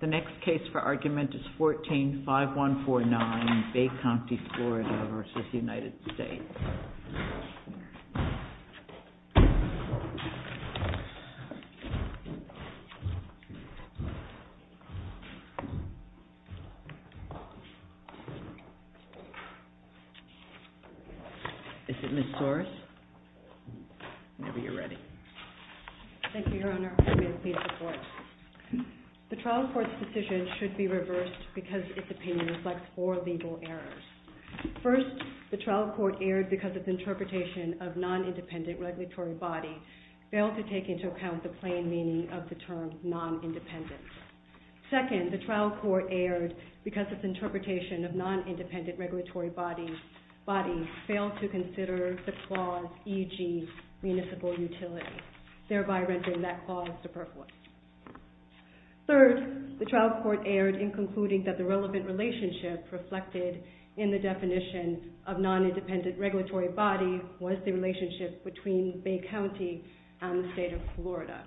The next case for argument is 14-5149, Bay County, Florida v. United States. Is it Ms. Torres? Whenever you're ready. Thank you, Your Honor. I'm going to plead the court. The trial court's decision should be reversed because its opinion reflects four legal errors. First, the trial court erred because its interpretation of non-independent regulatory body failed to take into account the plain meaning of the term non-independent. Second, the trial court erred because its interpretation of non-independent regulatory body failed to consider the clause e.g. municipal utility, thereby rendering that clause superfluous. Third, the trial court erred in concluding that the relevant relationship reflected in the definition of non-independent regulatory body was the relationship between Bay County and the state of Florida.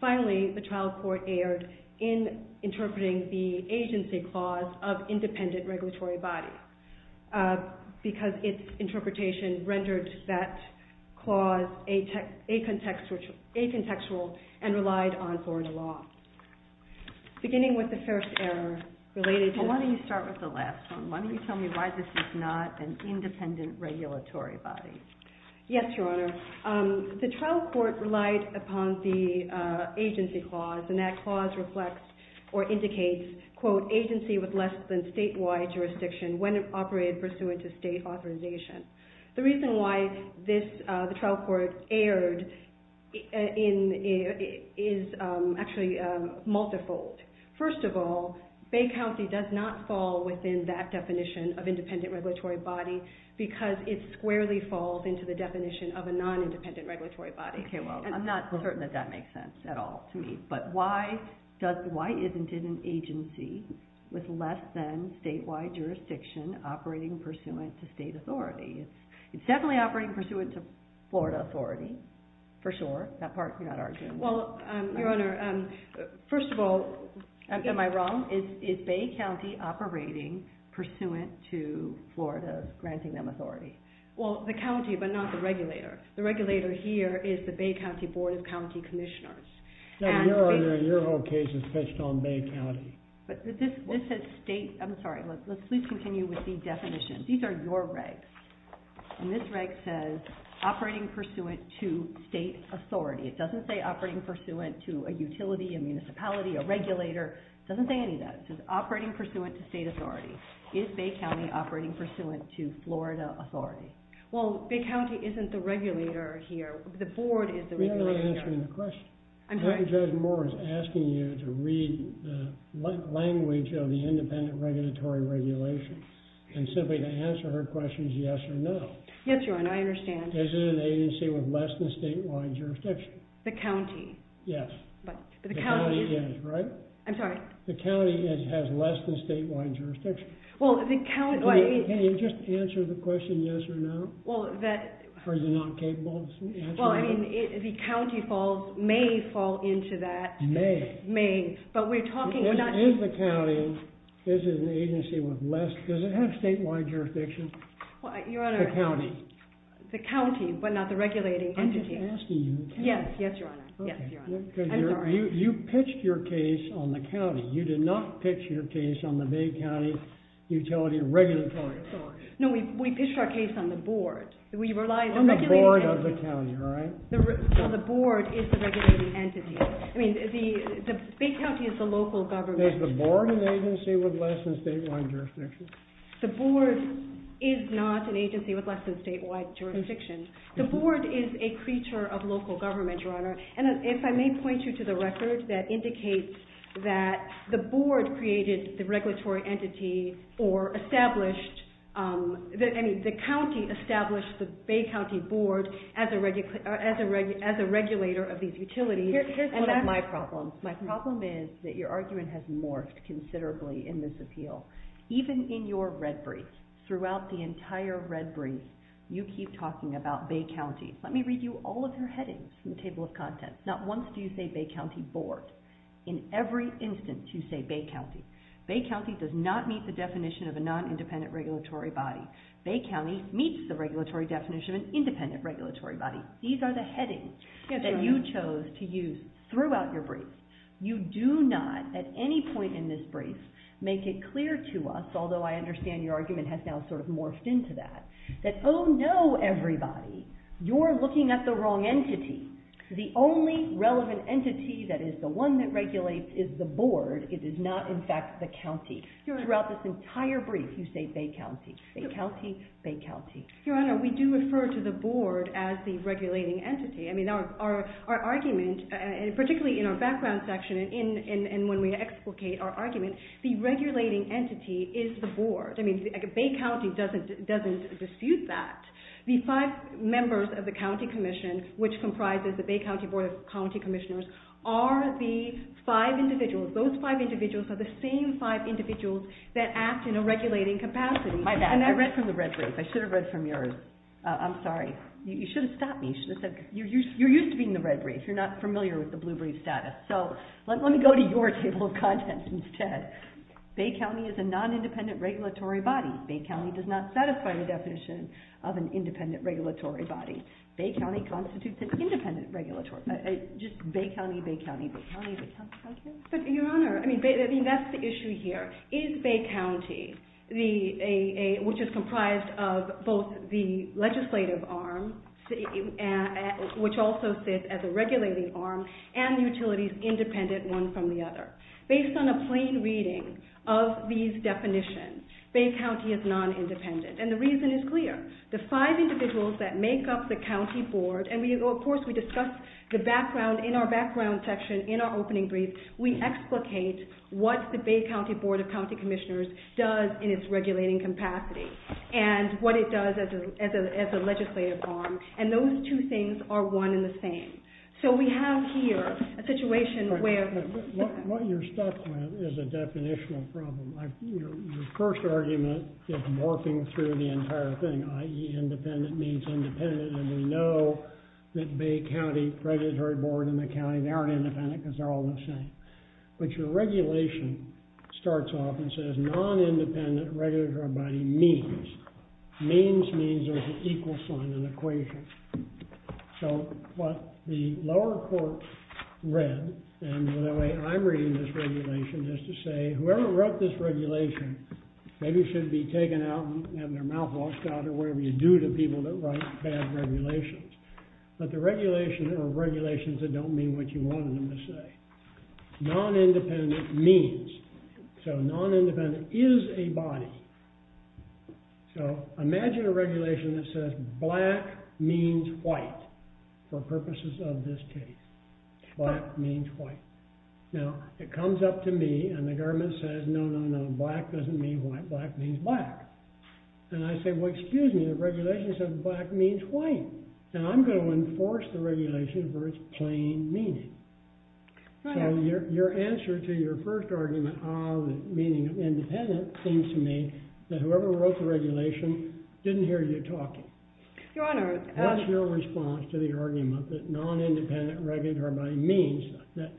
Finally, the trial court erred in interpreting the agency clause of independent regulatory body because its interpretation rendered that clause acontextual and relied on Florida law. Beginning with the first error related to... Why don't you start with the last one? Why don't you tell me why this is not an independent regulatory body? Yes, Your Honor. The trial court relied upon the agency clause and that clause reflects or indicates, quote, agency with less than statewide jurisdiction when it operated pursuant to state authorization. The reason why the trial court erred is actually multifold. First of all, Bay County does not fall within that definition of independent regulatory body because it squarely falls into the definition of a non-independent regulatory body. Okay, well, I'm not certain that that makes sense at all to me, but why isn't it an agency with less than statewide jurisdiction operating pursuant to state authority? It's definitely operating pursuant to Florida authority, for sure. That part you're not arguing. Well, Your Honor, first of all, am I wrong? Is Bay County operating pursuant to Florida granting them authority? Well, the county, but not the regulator. The regulator here is the Bay County Board of County Commissioners. No, Your Honor, your whole case is pitched on Bay County. But this says state... I'm sorry, let's please continue with the definition. These are your regs. And this reg says operating pursuant to state authority. It doesn't say operating pursuant to a utility, a municipality, a regulator. It doesn't say any of that. It says operating pursuant to state authority. Is Bay County operating pursuant to Florida authority? Well, Bay County isn't the regulator here. The board is the regulator. You're not answering the question. I'm sorry. Judge Moore is asking you to read the language of the independent regulatory regulation and simply to answer her questions yes or no. Yes, Your Honor, I understand. Is it an agency with less than statewide jurisdiction? The county. Yes. But the county... I'm sorry. The county has less than statewide jurisdiction. Well, the county... Can you just answer the question yes or no? Well, that... Are you not capable of answering that? Well, I mean, the county may fall into that. May. May. But we're talking... Is the county, is it an agency with less... Does it have statewide jurisdiction? Your Honor... The county. The county, but not the regulating entity. I'm just asking you the county. Yes, yes, Your Honor. Yes, Your Honor. I'm sorry. Your Honor, you pitched your case on the county. You did not pitch your case on the Bay County Utility Regulatory Authority. No, we pitched our case on the board. We rely on the regulating entity. On the board of the county, all right? The board is the regulating entity. I mean, the Bay County is the local government. Is the board an agency with less than statewide jurisdiction? The board is not an agency with less than statewide jurisdiction. The board is a creature of local government, Your Honor. And if I may point you to the record that indicates that the board created the regulatory entity or established, I mean, the county established the Bay County Board as a regulator of these utilities. Here's one of my problems. My problem is that your argument has morphed considerably in this appeal. Even in your red brief, throughout the entire red brief, you keep talking about Bay County. Let me read you all of your headings from the table of contents. Not once do you say Bay County Board. In every instance, you say Bay County. Bay County does not meet the definition of a non-independent regulatory body. Bay County meets the regulatory definition of an independent regulatory body. These are the headings that you chose to use throughout your brief. You do not, at any point in this brief, make it clear to us, although I understand your argument has now sort of morphed into that, that, oh, no, everybody, you're looking at the wrong entity. The only relevant entity that is the one that regulates is the board. It is not, in fact, the county. Throughout this entire brief, you say Bay County. Bay County, Bay County. Your Honor, we do refer to the board as the regulating entity. I mean, our argument, particularly in our background section and when we explicate our argument, the regulating entity is the board. I mean, Bay County doesn't dispute that. The five members of the county commission, which comprises the Bay County Board of County Commissioners, are the five individuals. Those five individuals are the same five individuals that act in a regulating capacity. My bad. I read from the red brief. I should have read from yours. I'm sorry. You should have stopped me. You're used to being in the red brief. You're not familiar with the blue brief status. So let me go to your table of contents instead. Bay County is a non-independent regulatory body. Bay County does not satisfy the definition of an independent regulatory body. Bay County constitutes an independent regulatory body. Just Bay County, Bay County, Bay County, Bay County. But, Your Honor, I mean, that's the issue here. Is Bay County, which is comprised of both the legislative arm, which also sits as a regulating arm, and utilities independent one from the other? Based on a plain reading of these definitions, Bay County is non-independent. And the reason is clear. The five individuals that make up the county board, and, of course, we discussed the background, in our background section in our opening brief, we explicate what the Bay County Board of County Commissioners does in its regulating capacity and what it does as a legislative arm, and those two things are one and the same. So we have here a situation where what you're stuck with is a definitional problem. Your first argument is morphing through the entire thing, i.e., independent means independent, and we know that Bay County Regulatory Board and the county, they aren't independent because they're all the same. But your regulation starts off and says non-independent regulatory body means. Means means there's an equal sign, an equation. So what the lower court read, and the way I'm reading this regulation, is to say whoever wrote this regulation maybe should be taken out and have their mouth washed out or whatever you do to people that write bad regulations. But the regulation are regulations that don't mean what you wanted them to say. Non-independent means. So non-independent is a body. So imagine a regulation that says black means white for purposes of this case. Black means white. Now, it comes up to me and the government says, no, no, no, black doesn't mean white, black means black. And I say, well, excuse me, the regulation says black means white, and I'm going to enforce the regulation for its plain meaning. So your answer to your first argument of the meaning of independent seems to me that whoever wrote the regulation didn't hear you talking. What's your response to the argument that non-independent regulatory body means, that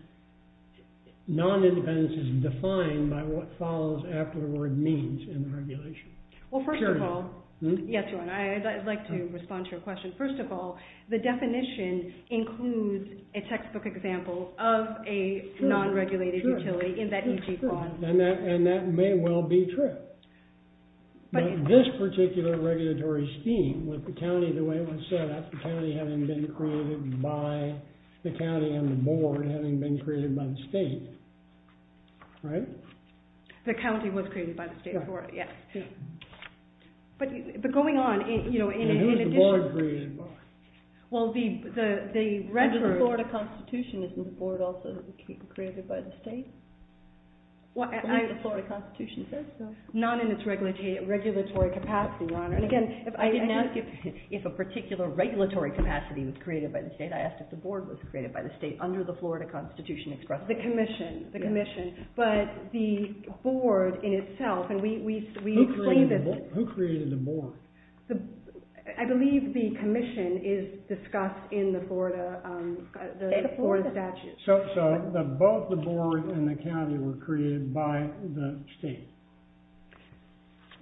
non-independence is defined by what follows after the word means in the regulation? Well, first of all, yes, Your Honor, I'd like to respond to your question. First of all, the definition includes a textbook example of a non-regulated utility in that EG clause. And that may well be true. But this particular regulatory scheme with the county the way it was set up, the county having been created by the county and the board having been created by the state, right? The county was created by the state for it, yes. But going on, you know, in addition... Who is the board created by? Well, the record... The Florida Constitution isn't the board also created by the state? Well, I... The Florida Constitution says so. Not in its regulatory capacity, Your Honor. And again, I didn't ask you if a particular regulatory capacity was created by the state. I asked if the board was created by the state under the Florida Constitution expressly. The commission, the commission. But the board in itself, and we... Who created the board? I believe the commission is discussed in the Florida statute. So both the board and the county were created by the state?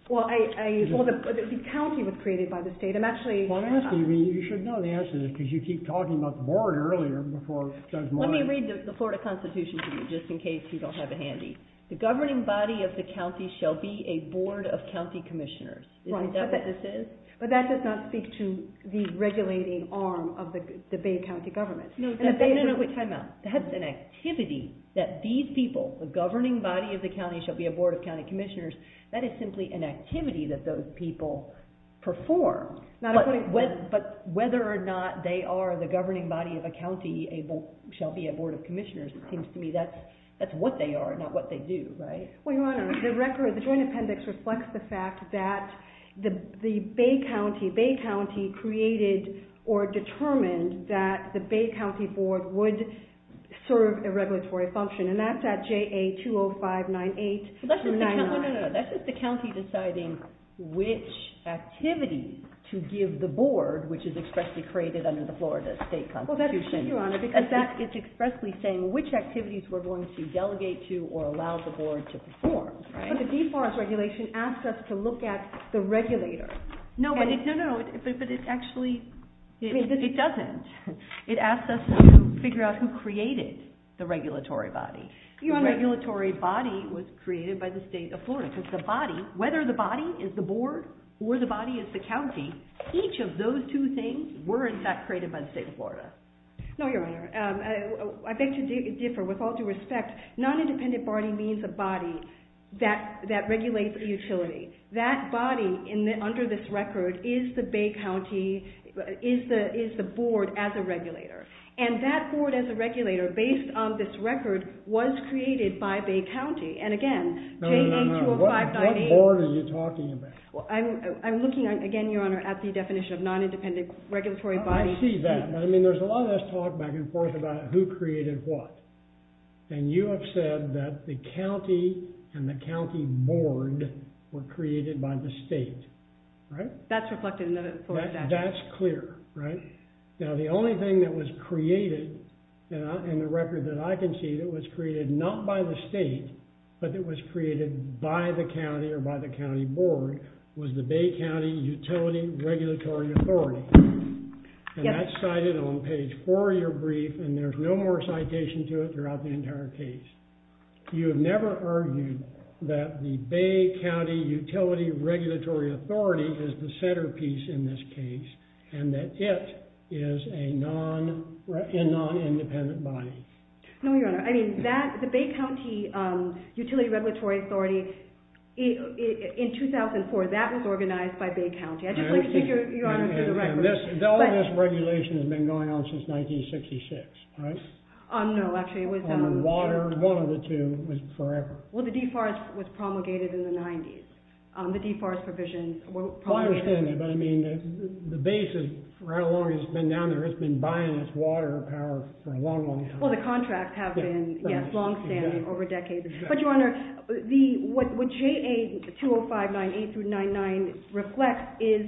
Well, the county was created by the state. I'm actually... Well, I'm asking you. You should know the answer to this because you keep talking about the board earlier. Let me read the Florida Constitution to you just in case you don't have it handy. The governing body of the county shall be a board of county commissioners. Right. Is that what this is? But that does not speak to the regulating arm of the Bay County government. No, no, no. Wait, time out. That's an activity that these people, the governing body of the county, shall be a board of county commissioners. That is simply an activity that those people perform. But whether or not they are the governing body of a county, shall be a board of commissioners, it seems to me that's what they are, not what they do, right? Well, Your Honor, the joint appendix reflects the fact that the Bay County created or determined that the Bay County board would serve a regulatory function. And that's at JA 20598-99. No, no, no. That's just the county deciding which activity to give the board, which is expressly created under the Florida State Constitution. Well, that's true, Your Honor, because that is expressly saying which activities we're going to delegate to or allow the board to perform, right? But the Deforest Regulation asks us to look at the regulator. No, but it actually, it doesn't. It asks us to figure out who created the regulatory body. Your Honor, the regulatory body was created by the state of Florida, because the body, whether the body is the board or the body is the county, each of those two things were created by the state of Florida. No, Your Honor. I beg to differ. With all due respect, non-independent body means a body that regulates utility. That body under this record is the Bay County, is the board as a regulator. And that board as a regulator, based on this record, was created by Bay County. And again, JA 20598- No, no, no. What board are you talking about? I'm looking, again, Your Honor, at the definition of non-independent regulatory body. I see that. I mean, there's a lot of this talk back and forth about who created what. And you have said that the county and the county board were created by the state, right? That's reflected in the Florida statute. That's clear, right? Now, the only thing that was created in the record that I can see that was created not by the state, but that was created by the county or by the county board, was the Bay County Utility Regulatory Authority. And that's cited on page four of your brief, and there's no more citation to it throughout the entire case. You have never argued that the Bay County Utility Regulatory Authority is the centerpiece in this case, and that it is a non-independent body. No, Your Honor. I mean, the Bay County Utility Regulatory Authority, in 2004, that was organized by Bay County. I'd just like to take Your Honor to the record. All of this regulation has been going on since 1966, right? No, actually, it was... On the water, one of the two was forever. Well, the deforest was promulgated in the 90s. The deforest provisions were promulgated... I understand that, but I mean, the base, for how long it's been down there, it's been buying its water power for a long, long time. All of the contracts have been, yes, long-standing over decades. But, Your Honor, what JA 2059-8-99 reflects is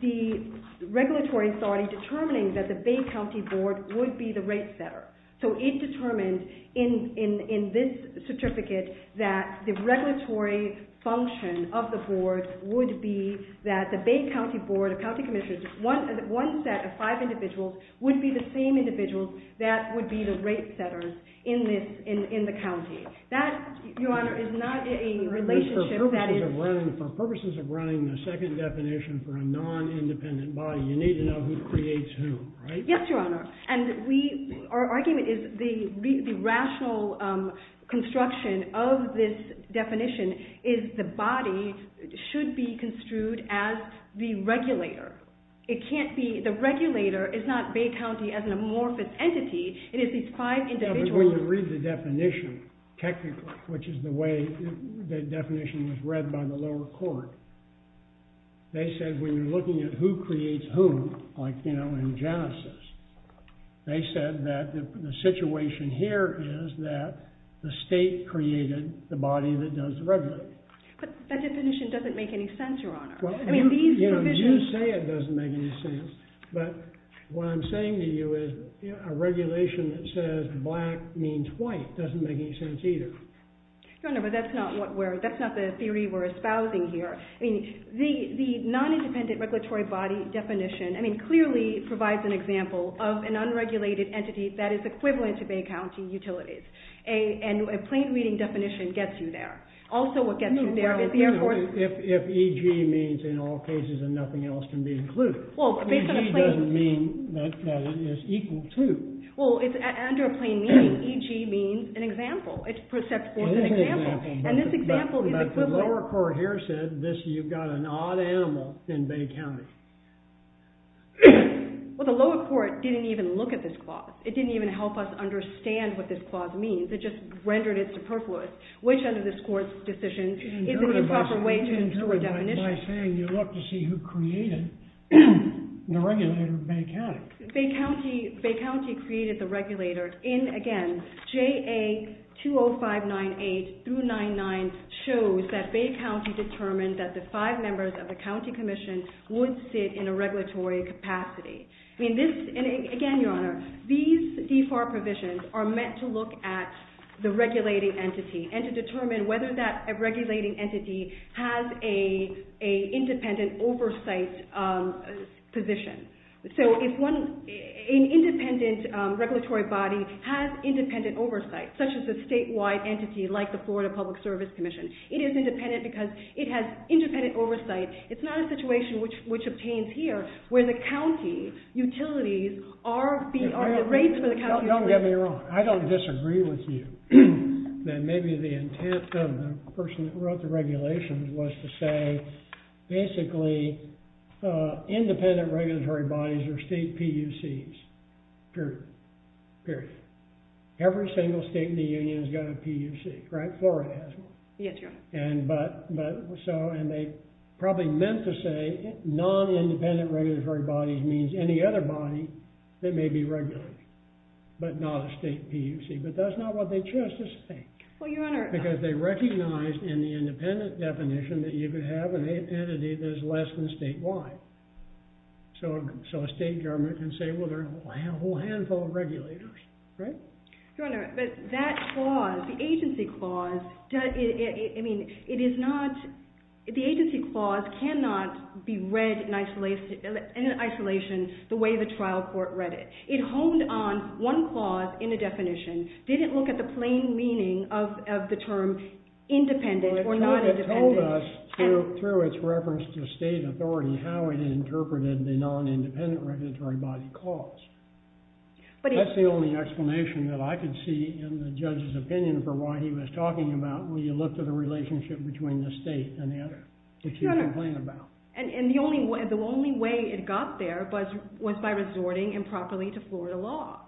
the regulatory authority determining that the Bay County Board would be the rate setter. So it determined in this certificate that the regulatory function of the board would be that the Bay County Board of County Commissioners, one set of five individuals, would be the same individuals that would be the rate setters in the county. That, Your Honor, is not a relationship that is... For purposes of running the second definition for a non-independent body, you need to know who creates whom, right? Yes, Your Honor. And we... Our argument is the rational construction of this definition is the body should be construed as the regulator. It can't be... The regulator is not Bay County as an amorphous entity. It is these five individuals... Yeah, but when you read the definition technically, which is the way the definition was read by the lower court, they said when you're looking at who creates whom, like, you know, in Genesis, they said that the situation here is that the state created the body that does the regulating. But that definition doesn't make any sense, Your Honor. I mean, these provisions... You say it doesn't make any sense, but what I'm saying to you is a regulation that says black means white doesn't make any sense either. Your Honor, but that's not what we're... That's not the theory we're espousing here. I mean, the non-independent regulatory body definition, I mean, clearly provides an example of an unregulated entity that is equivalent to Bay County Utilities. And a plain reading definition gets you there. Also what gets you there is the Air Force... If EG means in all cases and nothing else can be included. Well, based on a plain... EG doesn't mean that it is equal to. Well, under a plain meaning, EG means an example. It's perceptible as an example. It is an example. And this example is equivalent... But the lower court here said this, you've got an odd animal in Bay County. Well, the lower court didn't even look at this clause. It didn't even help us understand what this clause means. It just rendered it superfluous. Which, under this court's decision, isn't the proper way to ensure a definition. By saying you look to see who created the regulator of Bay County. Bay County created the regulator in, again, JA 20598 through 99 shows that Bay County determined that the five members of the county commission would sit in a regulatory capacity. I mean, this... And to determine whether that regulating entity has a independent oversight position. So, if one... An independent regulatory body has independent oversight, such as a statewide entity like the Florida Public Service Commission. It is independent because it has independent oversight. It's not a situation which obtains here where the county utilities are being... The rates for the county utilities... Don't get me wrong. I don't disagree with you that maybe the intent of the person who wrote the regulations was to say, basically, independent regulatory bodies are state PUCs. Period. Period. Every single state in the union has got a PUC, right? Florida has one. Yes, Your Honor. And they probably meant to say non-independent regulatory bodies means any other body that may be regulated, but not a state PUC. But that's not what they chose to say. Well, Your Honor... Because they recognized in the independent definition that you could have an entity that is less than statewide. So, a state government can say, well, there are a whole handful of regulators, right? Your Honor, but that clause, the agency clause... I mean, it is not... The agency clause cannot be read in isolation the way the trial court read it. It honed on one clause in the definition, didn't look at the plain meaning of the term independent or not independent. Well, it told us through its reference to state authority how it interpreted the non-independent regulatory body clause. That's the only explanation that I could see in the judge's opinion for why he was talking about when you looked at the relationship between the state and the other, which he complained about. Your Honor, and the only way it got there was by resorting improperly to Florida law.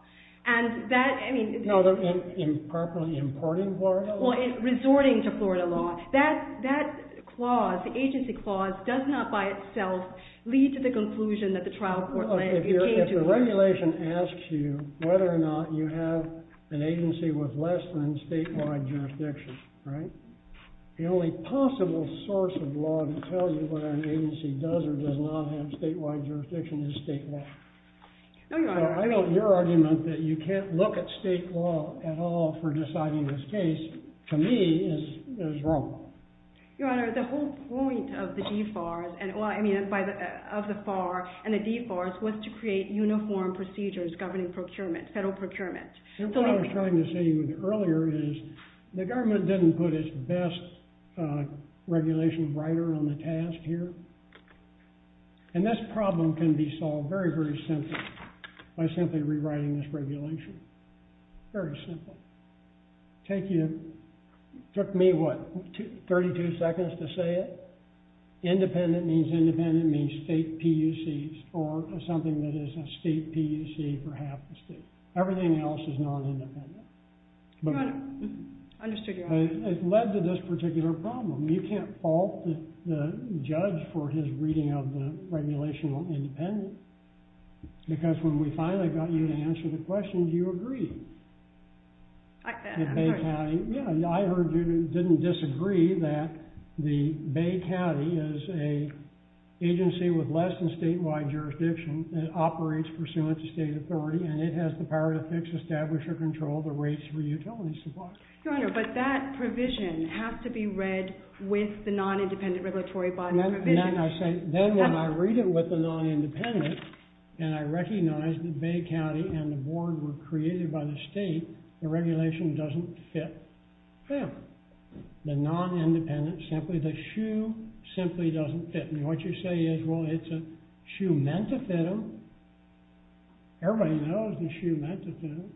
And that, I mean... No, improperly importing Florida law? Well, resorting to Florida law. That clause, the agency clause, does not by itself lead to the conclusion that the trial court... Well, if the regulation asks you whether or not you have an agency with less than statewide jurisdiction, right? The only possible source of law to tell you whether an agency does or does not have statewide jurisdiction is state law. No, Your Honor. So I don't... Your argument that you can't look at state law at all for deciding this case, to me, is wrong. Your Honor, the whole point of the DFARS and... Well, I mean, of the FAR and the DFARS was to create uniform procedures governing procurement, federal procurement. What I was trying to say earlier is the government didn't put its best regulation writer on the task here. And this problem can be solved very, very simply by simply rewriting this regulation. Very simple. Take your... It took me, what, 32 seconds to say it? Independent means independent, means state PUCs, or something that is a state PUC for us is non-independent. Your Honor, I understood your argument. It led to this particular problem. You can't fault the judge for his reading of the regulation on independent, because when we finally got you to answer the question, you agreed. I did. At Bay County. Yeah, I heard you didn't disagree that the Bay County is an agency with less than statewide jurisdiction that operates pursuant to state authority, and it has the power to fix, establish, or control the rates for utility supplies. Your Honor, but that provision has to be read with the non-independent regulatory body provision. And then I say, then when I read it with the non-independent, and I recognize that Bay County and the board were created by the state, the regulation doesn't fit them. The non-independent simply, the SHU simply doesn't fit. And what you say is, well, it's a SHU meant to fit them. Everybody knows the SHU meant to fit them.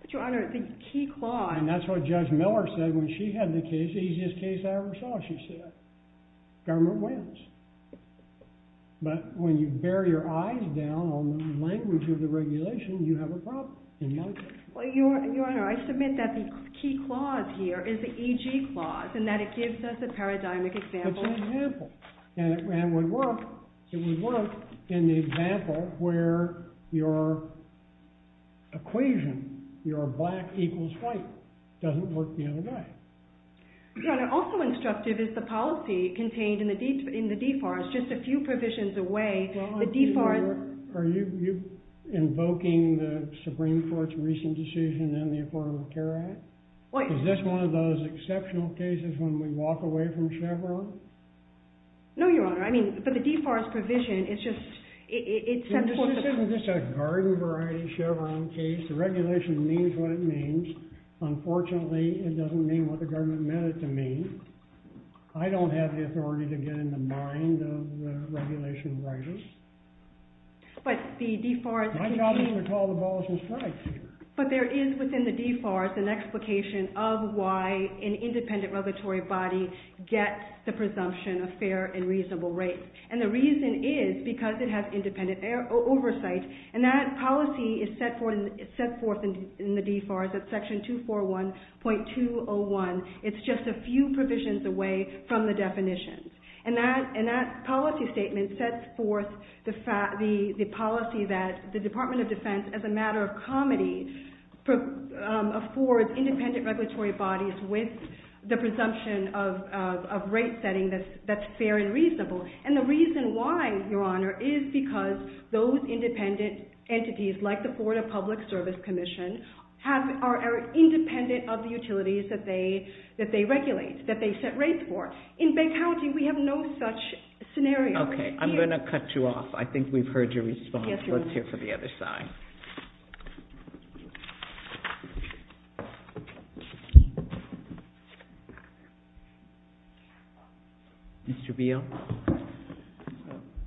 But Your Honor, the key clause. And that's what Judge Miller said when she had the case, the easiest case I ever saw, she said. Government wins. But when you bear your eyes down on the language of the regulation, you have a problem, in my case. Well, Your Honor, I submit that the key clause here is the EG clause, and that it gives us a paradigmic example. And it would work in the example where your equation, your black equals white, doesn't work the other way. Your Honor, also instructive is the policy contained in the DFAR. It's just a few provisions away. The DFAR is- Are you invoking the Supreme Court's recent decision in the Affordable Care Act? Is this one of those exceptional cases when we walk away from Chevron? No, Your Honor. I mean, but the DFAR's provision, it's just- Is this a garden-variety Chevron case? The regulation means what it means. Unfortunately, it doesn't mean what the government meant it to mean. I don't have the authority to get in the mind of the regulation writers. But the DFAR- My job is to call the balls and strikes here. But there is, within the DFAR, an explication of why an independent regulatory body gets the presumption of fair and reasonable rates. And the reason is because it has independent oversight. And that policy is set forth in the DFAR, that's section 241.201. It's just a few provisions away from the definition. And that policy statement sets forth the policy that the Department of Defense, as a matter of comedy, affords independent regulatory bodies with the presumption of rate-setting that's fair and reasonable. And the reason why, Your Honor, is because those independent entities, like the Florida Public Service Commission, are independent of the utilities that they regulate, that they set rates for. In Bay County, we have no such scenario. Okay. I'm going to cut you off. I think we've heard your response. Yes, Your Honor. Let's hear from the other side. Mr. Beal?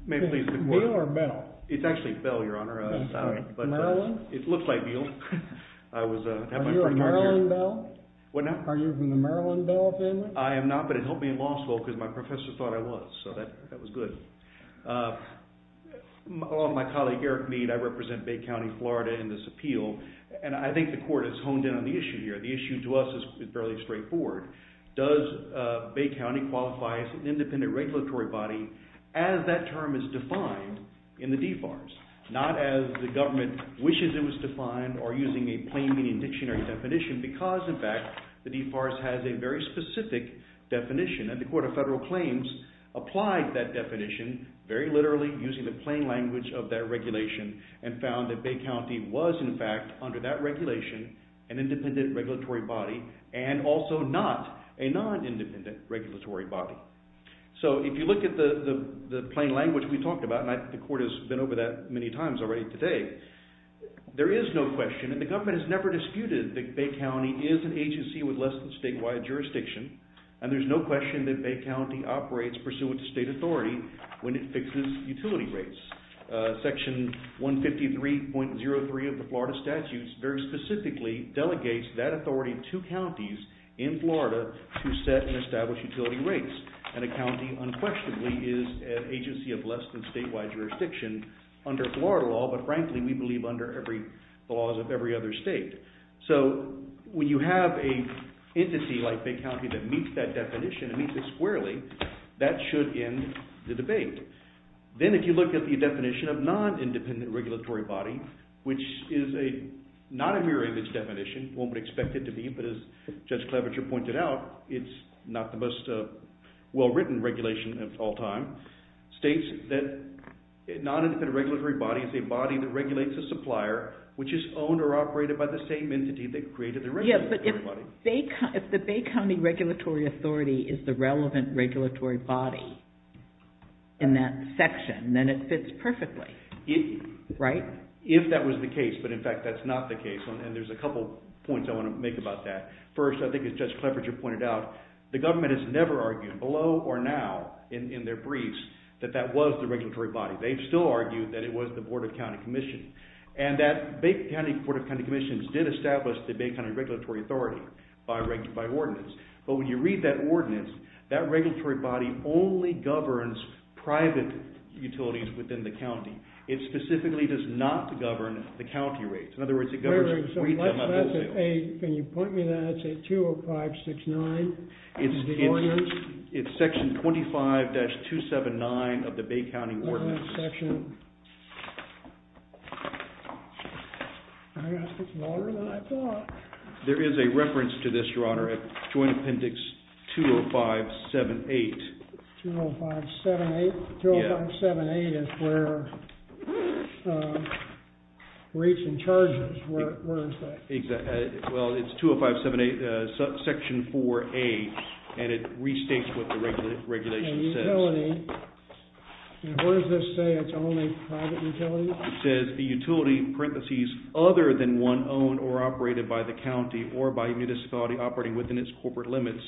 May I please report? Beal or Bell? It's actually Bell, Your Honor. I'm sorry. Maryland? It looks like Beal. I was... Are you a Maryland Bell? What now? Are you from the Maryland Bell family? I am not, but it helped me in law school because my professor thought I was. So that was good. My colleague, Eric Mead, I represent Bay County, Florida in this appeal, and I think the court has honed in on the issue here. The issue to us is fairly straightforward. Does Bay County qualify as an independent regulatory body as that term is defined in the DFARS? Not as the government wishes it was defined or using a plain meaning dictionary definition because, in fact, the DFARS has a very specific definition. And the Court of Federal Claims applied that definition very literally using the plain language of that regulation and found that Bay County was, in fact, under that regulation, an independent regulatory body and also not a non-independent regulatory body. So if you look at the plain language we talked about, and the court has been over that many times already today, there is no question and the government has never disputed that Bay County is an agency with less than statewide jurisdiction, and there is no question that Bay County operates pursuant to state authority when it fixes utility rates. Section 153.03 of the Florida statutes very specifically delegates that authority to counties in Florida to set and establish utility rates, and a county unquestionably is an agency of less than statewide jurisdiction under Florida law, but frankly we believe under the laws of every other state. So when you have an entity like Bay County that meets that definition and meets it squarely, that should end the debate. Then if you look at the definition of non-independent regulatory body, which is not a mirror image definition, one would expect it to be, but as Judge Cleverchure pointed out, it's not the most well-written regulation of all time, states that non-independent regulatory body is a body that regulates the supplier, which is owned or operated by the same entity that created the regulatory body. But if the Bay County regulatory authority is the relevant regulatory body in that section, then it fits perfectly, right? If that was the case, but in fact that's not the case, and there's a couple points I want to make about that. First, I think as Judge Cleverchure pointed out, the government has never argued below or now in their briefs that that was the regulatory body. They've still argued that it was the Board of County Commission. And that Bay County Board of County Commission did establish the Bay County regulatory authority by ordinance. But when you read that ordinance, that regulatory body only governs private utilities within the county. It specifically does not govern the county rates. In other words, it governs retail and wholesale. Can you point me to that? It's at 20569 in the ordinance? It's section 25-279 of the Bay County Ordinance. Oh, that's section... I got to get some water? Then I thought... There is a reference to this, Your Honor, at Joint Appendix 20578. 20578? Yeah. 20578 is where rates and charges... Where is that? Well, it's 20578, section 4A. And it restates what the regulation says. Utility. And where does this say it's only private utilities? It says, the utility, parentheses, other than one owned or operated by the county or by a municipality operating within its corporate limits,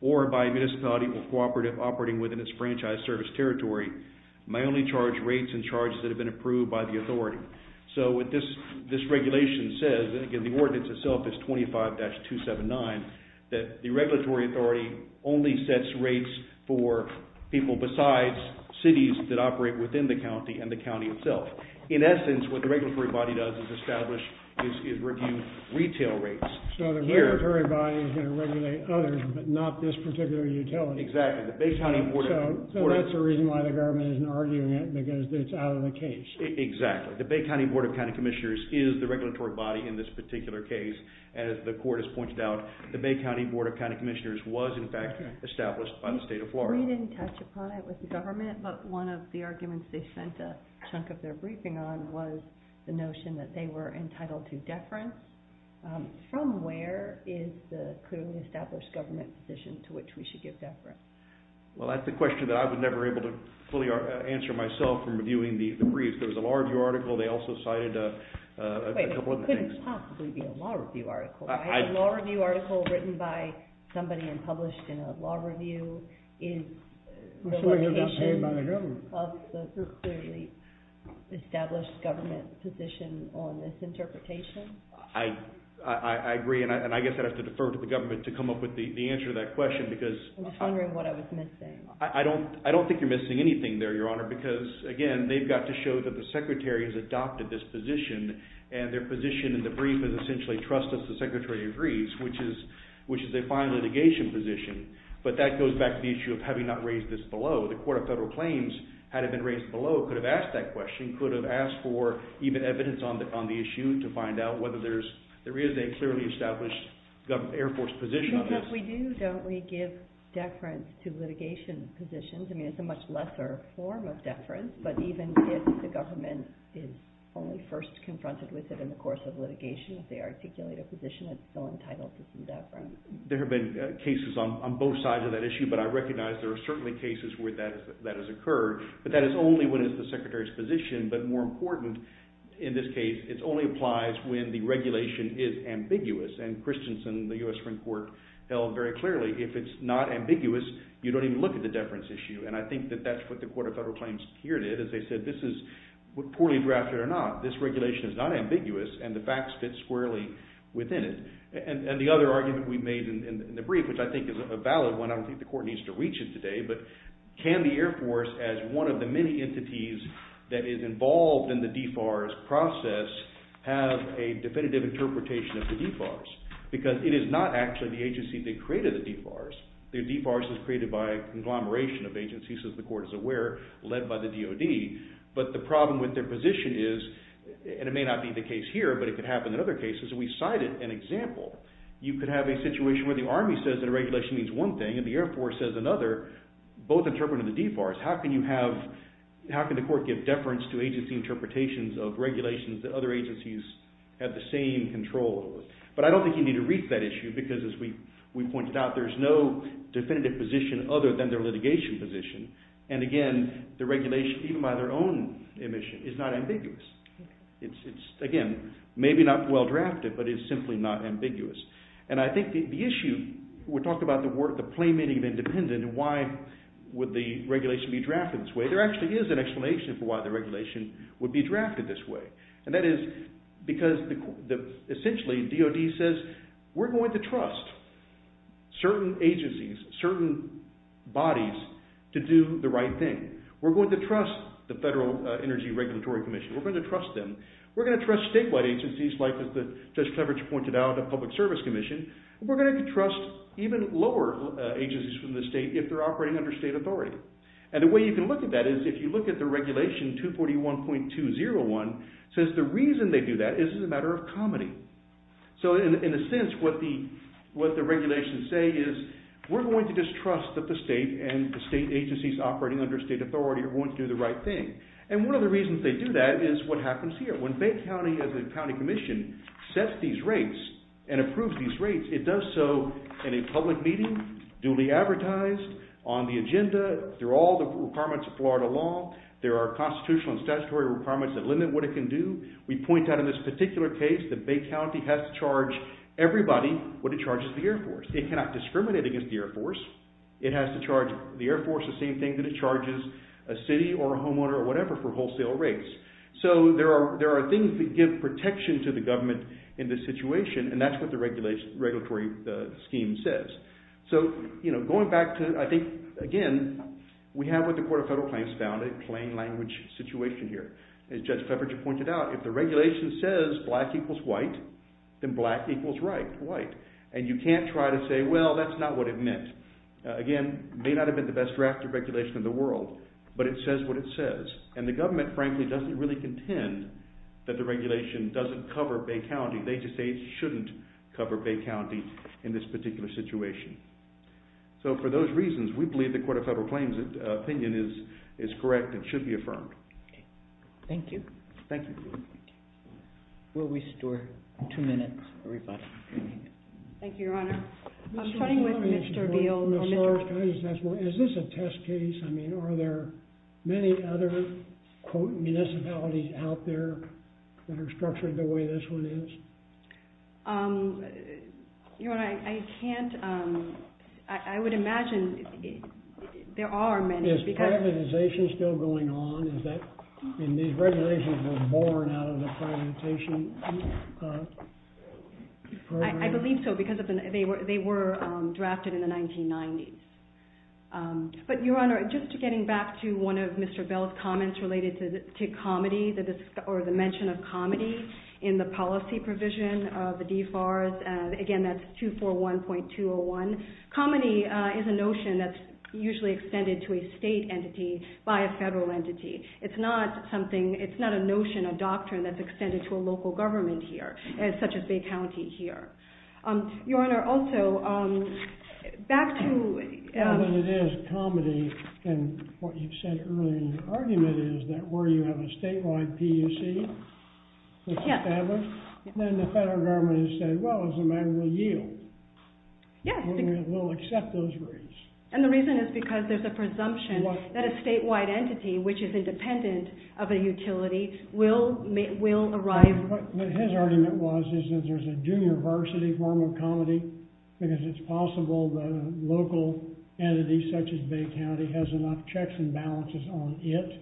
or by a municipality or cooperative operating within its franchise service territory, may only charge rates and charges that have been approved by the authority. So what this regulation says, and again, the ordinance itself is 25-279, that the regulatory authority only sets rates for people besides cities that operate within the county and the county itself. In essence, what the regulatory body does is establish, is review retail rates. So the regulatory body is going to regulate others, but not this particular utility. Exactly. The Bay County... So that's the reason why the government isn't arguing it, because it's out of the case. Exactly. The Bay County Board of County Commissioners is the regulatory body in this particular case. And as the court has pointed out, the Bay County Board of County Commissioners was in fact established by the state of Florida. We didn't touch upon it with the government, but one of the arguments they sent a chunk of their briefing on was the notion that they were entitled to deference. From where is the clearly established government position to which we should give deference? Well, that's a question that I was never able to fully answer myself from reviewing the case. There was a law review article. They also cited a couple of other things. Wait a minute. It couldn't possibly be a law review article. I... A law review article written by somebody and published in a law review is... That's what you're not saying by the government. ...is the location of the clearly established government position on this interpretation? I agree, and I guess I'd have to defer to the government to come up with the answer to that question, because... I'm just wondering what I was missing. I don't think you're missing anything there, Your Honor, because again, they've got to show that the Secretary has adopted this position, and their position in the brief is essentially trust as the Secretary agrees, which is a fine litigation position, but that goes back to the issue of having not raised this below. The Court of Federal Claims, had it been raised below, could have asked that question, could have asked for even evidence on the issue to find out whether there is a clearly established government... Air Force position on this. Because we do, don't we, give deference to litigation positions? I mean, it's a much lesser form of deference, but even if the government is only first confronted with it in the course of litigation, if they articulate a position, it's still entitled to some deference. There have been cases on both sides of that issue, but I recognize there are certainly cases where that has occurred, but that is only when it's the Secretary's position, but more important in this case, it only applies when the regulation is ambiguous, and Christensen, the U.S. Supreme Court, held very clearly, if it's not ambiguous, you don't even look at the deference issue, and I think that that's what the Court of Federal Claims here did, as they said, this is, poorly drafted or not, this regulation is not ambiguous, and the facts fit squarely within it. And the other argument we made in the brief, which I think is a valid one, I don't think the Court needs to reach it today, but can the Air Force, as one of the many entities that is involved in the DFARS process, have a definitive interpretation of the DFARS? Because it is not actually the agency that created the DFARS. The DFARS was created by a conglomeration of agencies, as the Court is aware, led by the DOD, but the problem with their position is, and it may not be the case here, but it could happen in other cases, and we cited an example, you could have a situation where the Army says that a regulation means one thing, and the Air Force says another, both interpreting the DFARS, how can you have, how can the Court give deference to agency interpretations of regulations that other agencies have the same control over? But I don't think you need to reach that issue, because as we pointed out, there's no definitive position other than their litigation position, and again, the regulation, even by their own admission, is not ambiguous. It's, again, maybe not well drafted, but it's simply not ambiguous. And I think the issue, we talked about the playmating of independent and why would the regulation be drafted this way, there actually is an explanation for why the regulation would be drafted this way, and that is because, essentially, DOD says, we're going to trust certain agencies, certain bodies, to do the right thing. We're going to trust the Federal Energy Regulatory Commission, we're going to trust them, we're going to trust statewide agencies like, as Judge Cleveridge pointed out, the Public Service Commission, and we're going to trust even lower agencies from the state if they're operating under state authority. And the way you can look at that is, if you look at the regulation 241.201, it says the reason they do that is as a matter of comedy. So, in a sense, what the regulations say is, we're going to just trust that the state and the state agencies operating under state authority are going to do the right thing. And one of the reasons they do that is what happens here. When Bay County, as a county commission, sets these rates and approves these rates, it does so in a public meeting, duly advertised, on the agenda, through all the requirements of Florida law, there are constitutional and statutory requirements that limit what it can do. We point out in this particular case that Bay County has to charge everybody what it charges the Air Force. It cannot discriminate against the Air Force. It has to charge the Air Force the same thing that it charges a city or a homeowner or whatever for wholesale rates. So, there are things that give protection to the government in this situation, and that's what the regulatory scheme says. So, going back to, I think, again, we have what the Court of Federal Claims found, a plain language situation here. As Judge Cleveridge pointed out, if the regulation says black equals white, then black equals white. And you can't try to say, well, that's not what it meant. Again, it may not have been the best drafted regulation in the world, but it says what it says. And the government, frankly, doesn't really contend that the regulation doesn't cover Bay County. They just say it shouldn't cover Bay County in this particular situation. So, for those reasons, we believe the Court of Federal Claims' opinion is correct and should be affirmed. Okay. Thank you. Thank you. Thank you. We'll restore two minutes, everybody. Thank you, Your Honor. I'm starting with Mr. Beal. Ms. Lawrence, can I just ask, is this a test case? I mean, are there many other, quote, municipalities out there that are structured the way this one is? Your Honor, I can't, I would imagine there are many. Is privatization still going on? Is that, I mean, these regulations were born out of the privatization program? I believe so, because they were drafted in the 1990s. But, Your Honor, just getting back to one of Mr. Beal's comments related to comedy, or the mention of comedy in the policy provision of the DFARS, again, that's 241.201. Comedy is a notion that's usually extended to a state entity by a federal entity. It's not something, it's not a notion, a doctrine that's extended to a local government here, such as Bay County here. Your Honor, also, back to... As good as it is, comedy, and what you've said earlier in your argument, is that where you have a statewide PUC, the federal government has said, well, as a matter of yield, we'll accept those rates. And the reason is because there's a presumption that a statewide entity, which is independent of a utility, will arrive... What his argument was is that there's a junior varsity form of comedy, because it's possible that a local entity, such as Bay County, has enough checks and balances on it,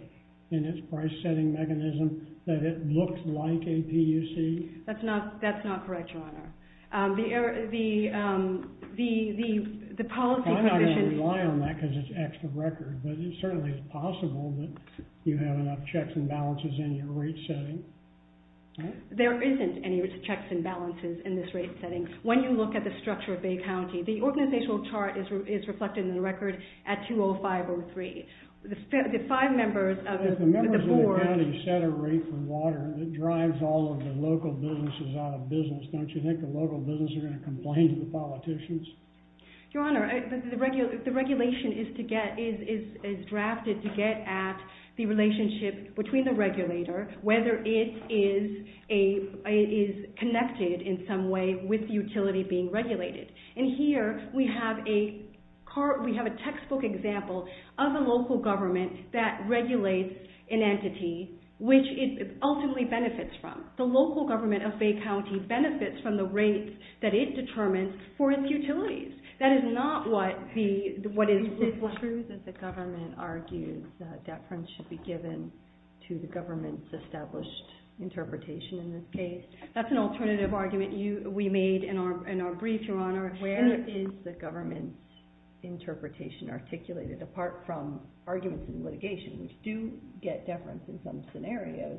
in its price setting mechanism, that it looks like a PUC. That's not correct, Your Honor. The policy provision... I'm not going to rely on that, because it's extra record, but it certainly is possible that you have enough checks and balances in your rate setting. There isn't any checks and balances in this rate setting. When you look at the structure of Bay County, the organizational chart is reflected in the record at 20503. The five members of the board... If the members of the county set a rate for water, it drives all of the local businesses out of business. Don't you think the local businesses are going to complain to the politicians? Your Honor, the regulation is drafted to get at the relationship between the regulator, whether it is connected in some way with utility being regulated. Here, we have a textbook example of a local government that regulates an entity, which it ultimately benefits from. The local government of Bay County benefits from the rates that it determines for its utilities. That is not what is... Is it true that the government argues that deference should be given to the government's established interpretation in this case? That's an alternative argument we made in our brief, Your Honor. Where is the government's interpretation articulated, apart from arguments in litigation, which do get deference in some scenarios?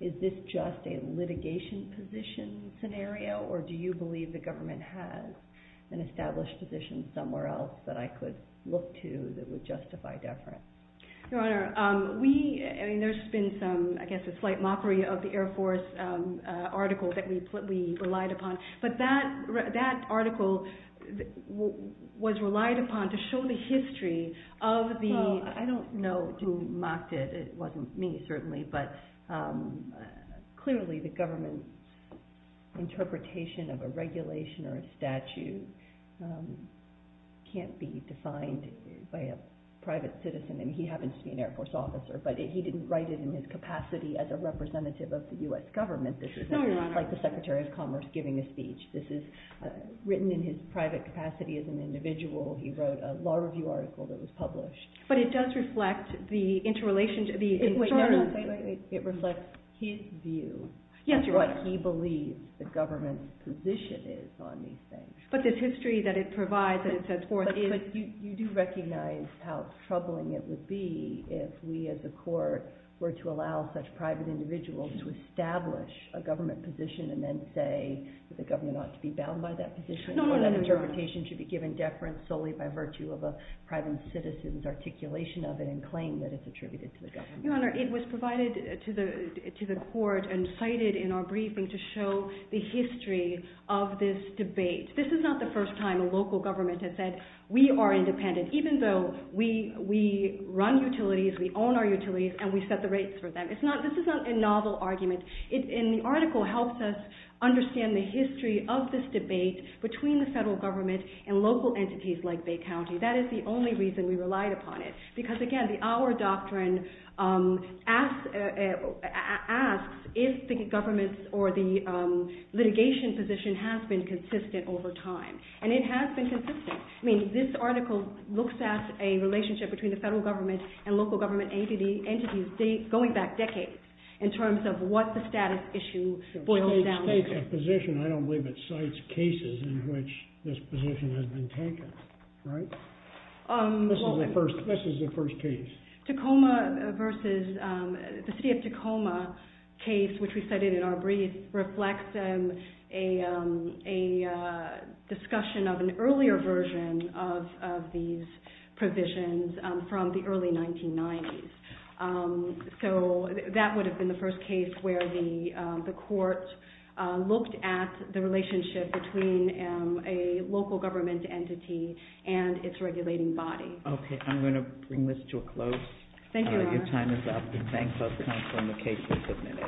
Is this just a litigation position scenario, or do you believe the government has an established position somewhere else that I could look to that would justify deference? Your Honor, we... I mean, there's been some, I guess, a slight mockery of the Air Force article that we relied upon. But that article was relied upon to show the history of the... Well, I don't know who mocked it. It wasn't me, certainly. But clearly, the government's interpretation of a regulation or a statute can't be defined by a private citizen. I mean, he happens to be an Air Force officer, but he didn't write it in his capacity as a representative of the US government. No, Your Honor. This is not like the Secretary of Commerce giving a speech. This is written in his private capacity as an individual. He wrote a law review article that was published. But it does reflect the interrelationship... Wait, wait, wait. It reflects his view... Yes, Your Honor. ...as to what he believes the government's position is on these things. But the history that it provides and it sets forth is... But you do recognize how troubling it would be if we, as a court, were to allow such private individuals to establish a government position and then say that the government ought to be bound by that position... No, no, no. ...and that interpretation should be given deference solely by virtue of a private citizen's articulation of it and claim that it's attributed to the government. Your Honor, it was provided to the court and cited in our briefing to show the history of this debate. This is not the first time a local government has said, we are independent, even though we run utilities, we own our utilities, and we set the rates for them. It's not... This is not a novel argument. And the article helps us understand the history of this debate between the federal government and local entities like Bay County. That is the only reason we relied upon it because, again, our doctrine asks if the government or the litigation position has been consistent over time. And it has been consistent. I mean, this article looks at a relationship between the federal government and local government entities going back decades in terms of what the status issue boils down to. The state's position, I don't believe it cites cases in which this position has been taken, right? This is the first case. Tacoma versus... The city of Tacoma case, which we cited in our brief, reflects a discussion of an earlier version of these provisions from the early 1990s. So that would have been the first case where the court looked at the relationship between a local government entity and its regulating body. Okay. I'm going to bring this to a close. Thank you, Your Honor. Your time is up. Thank both counsel and the case has been submitted.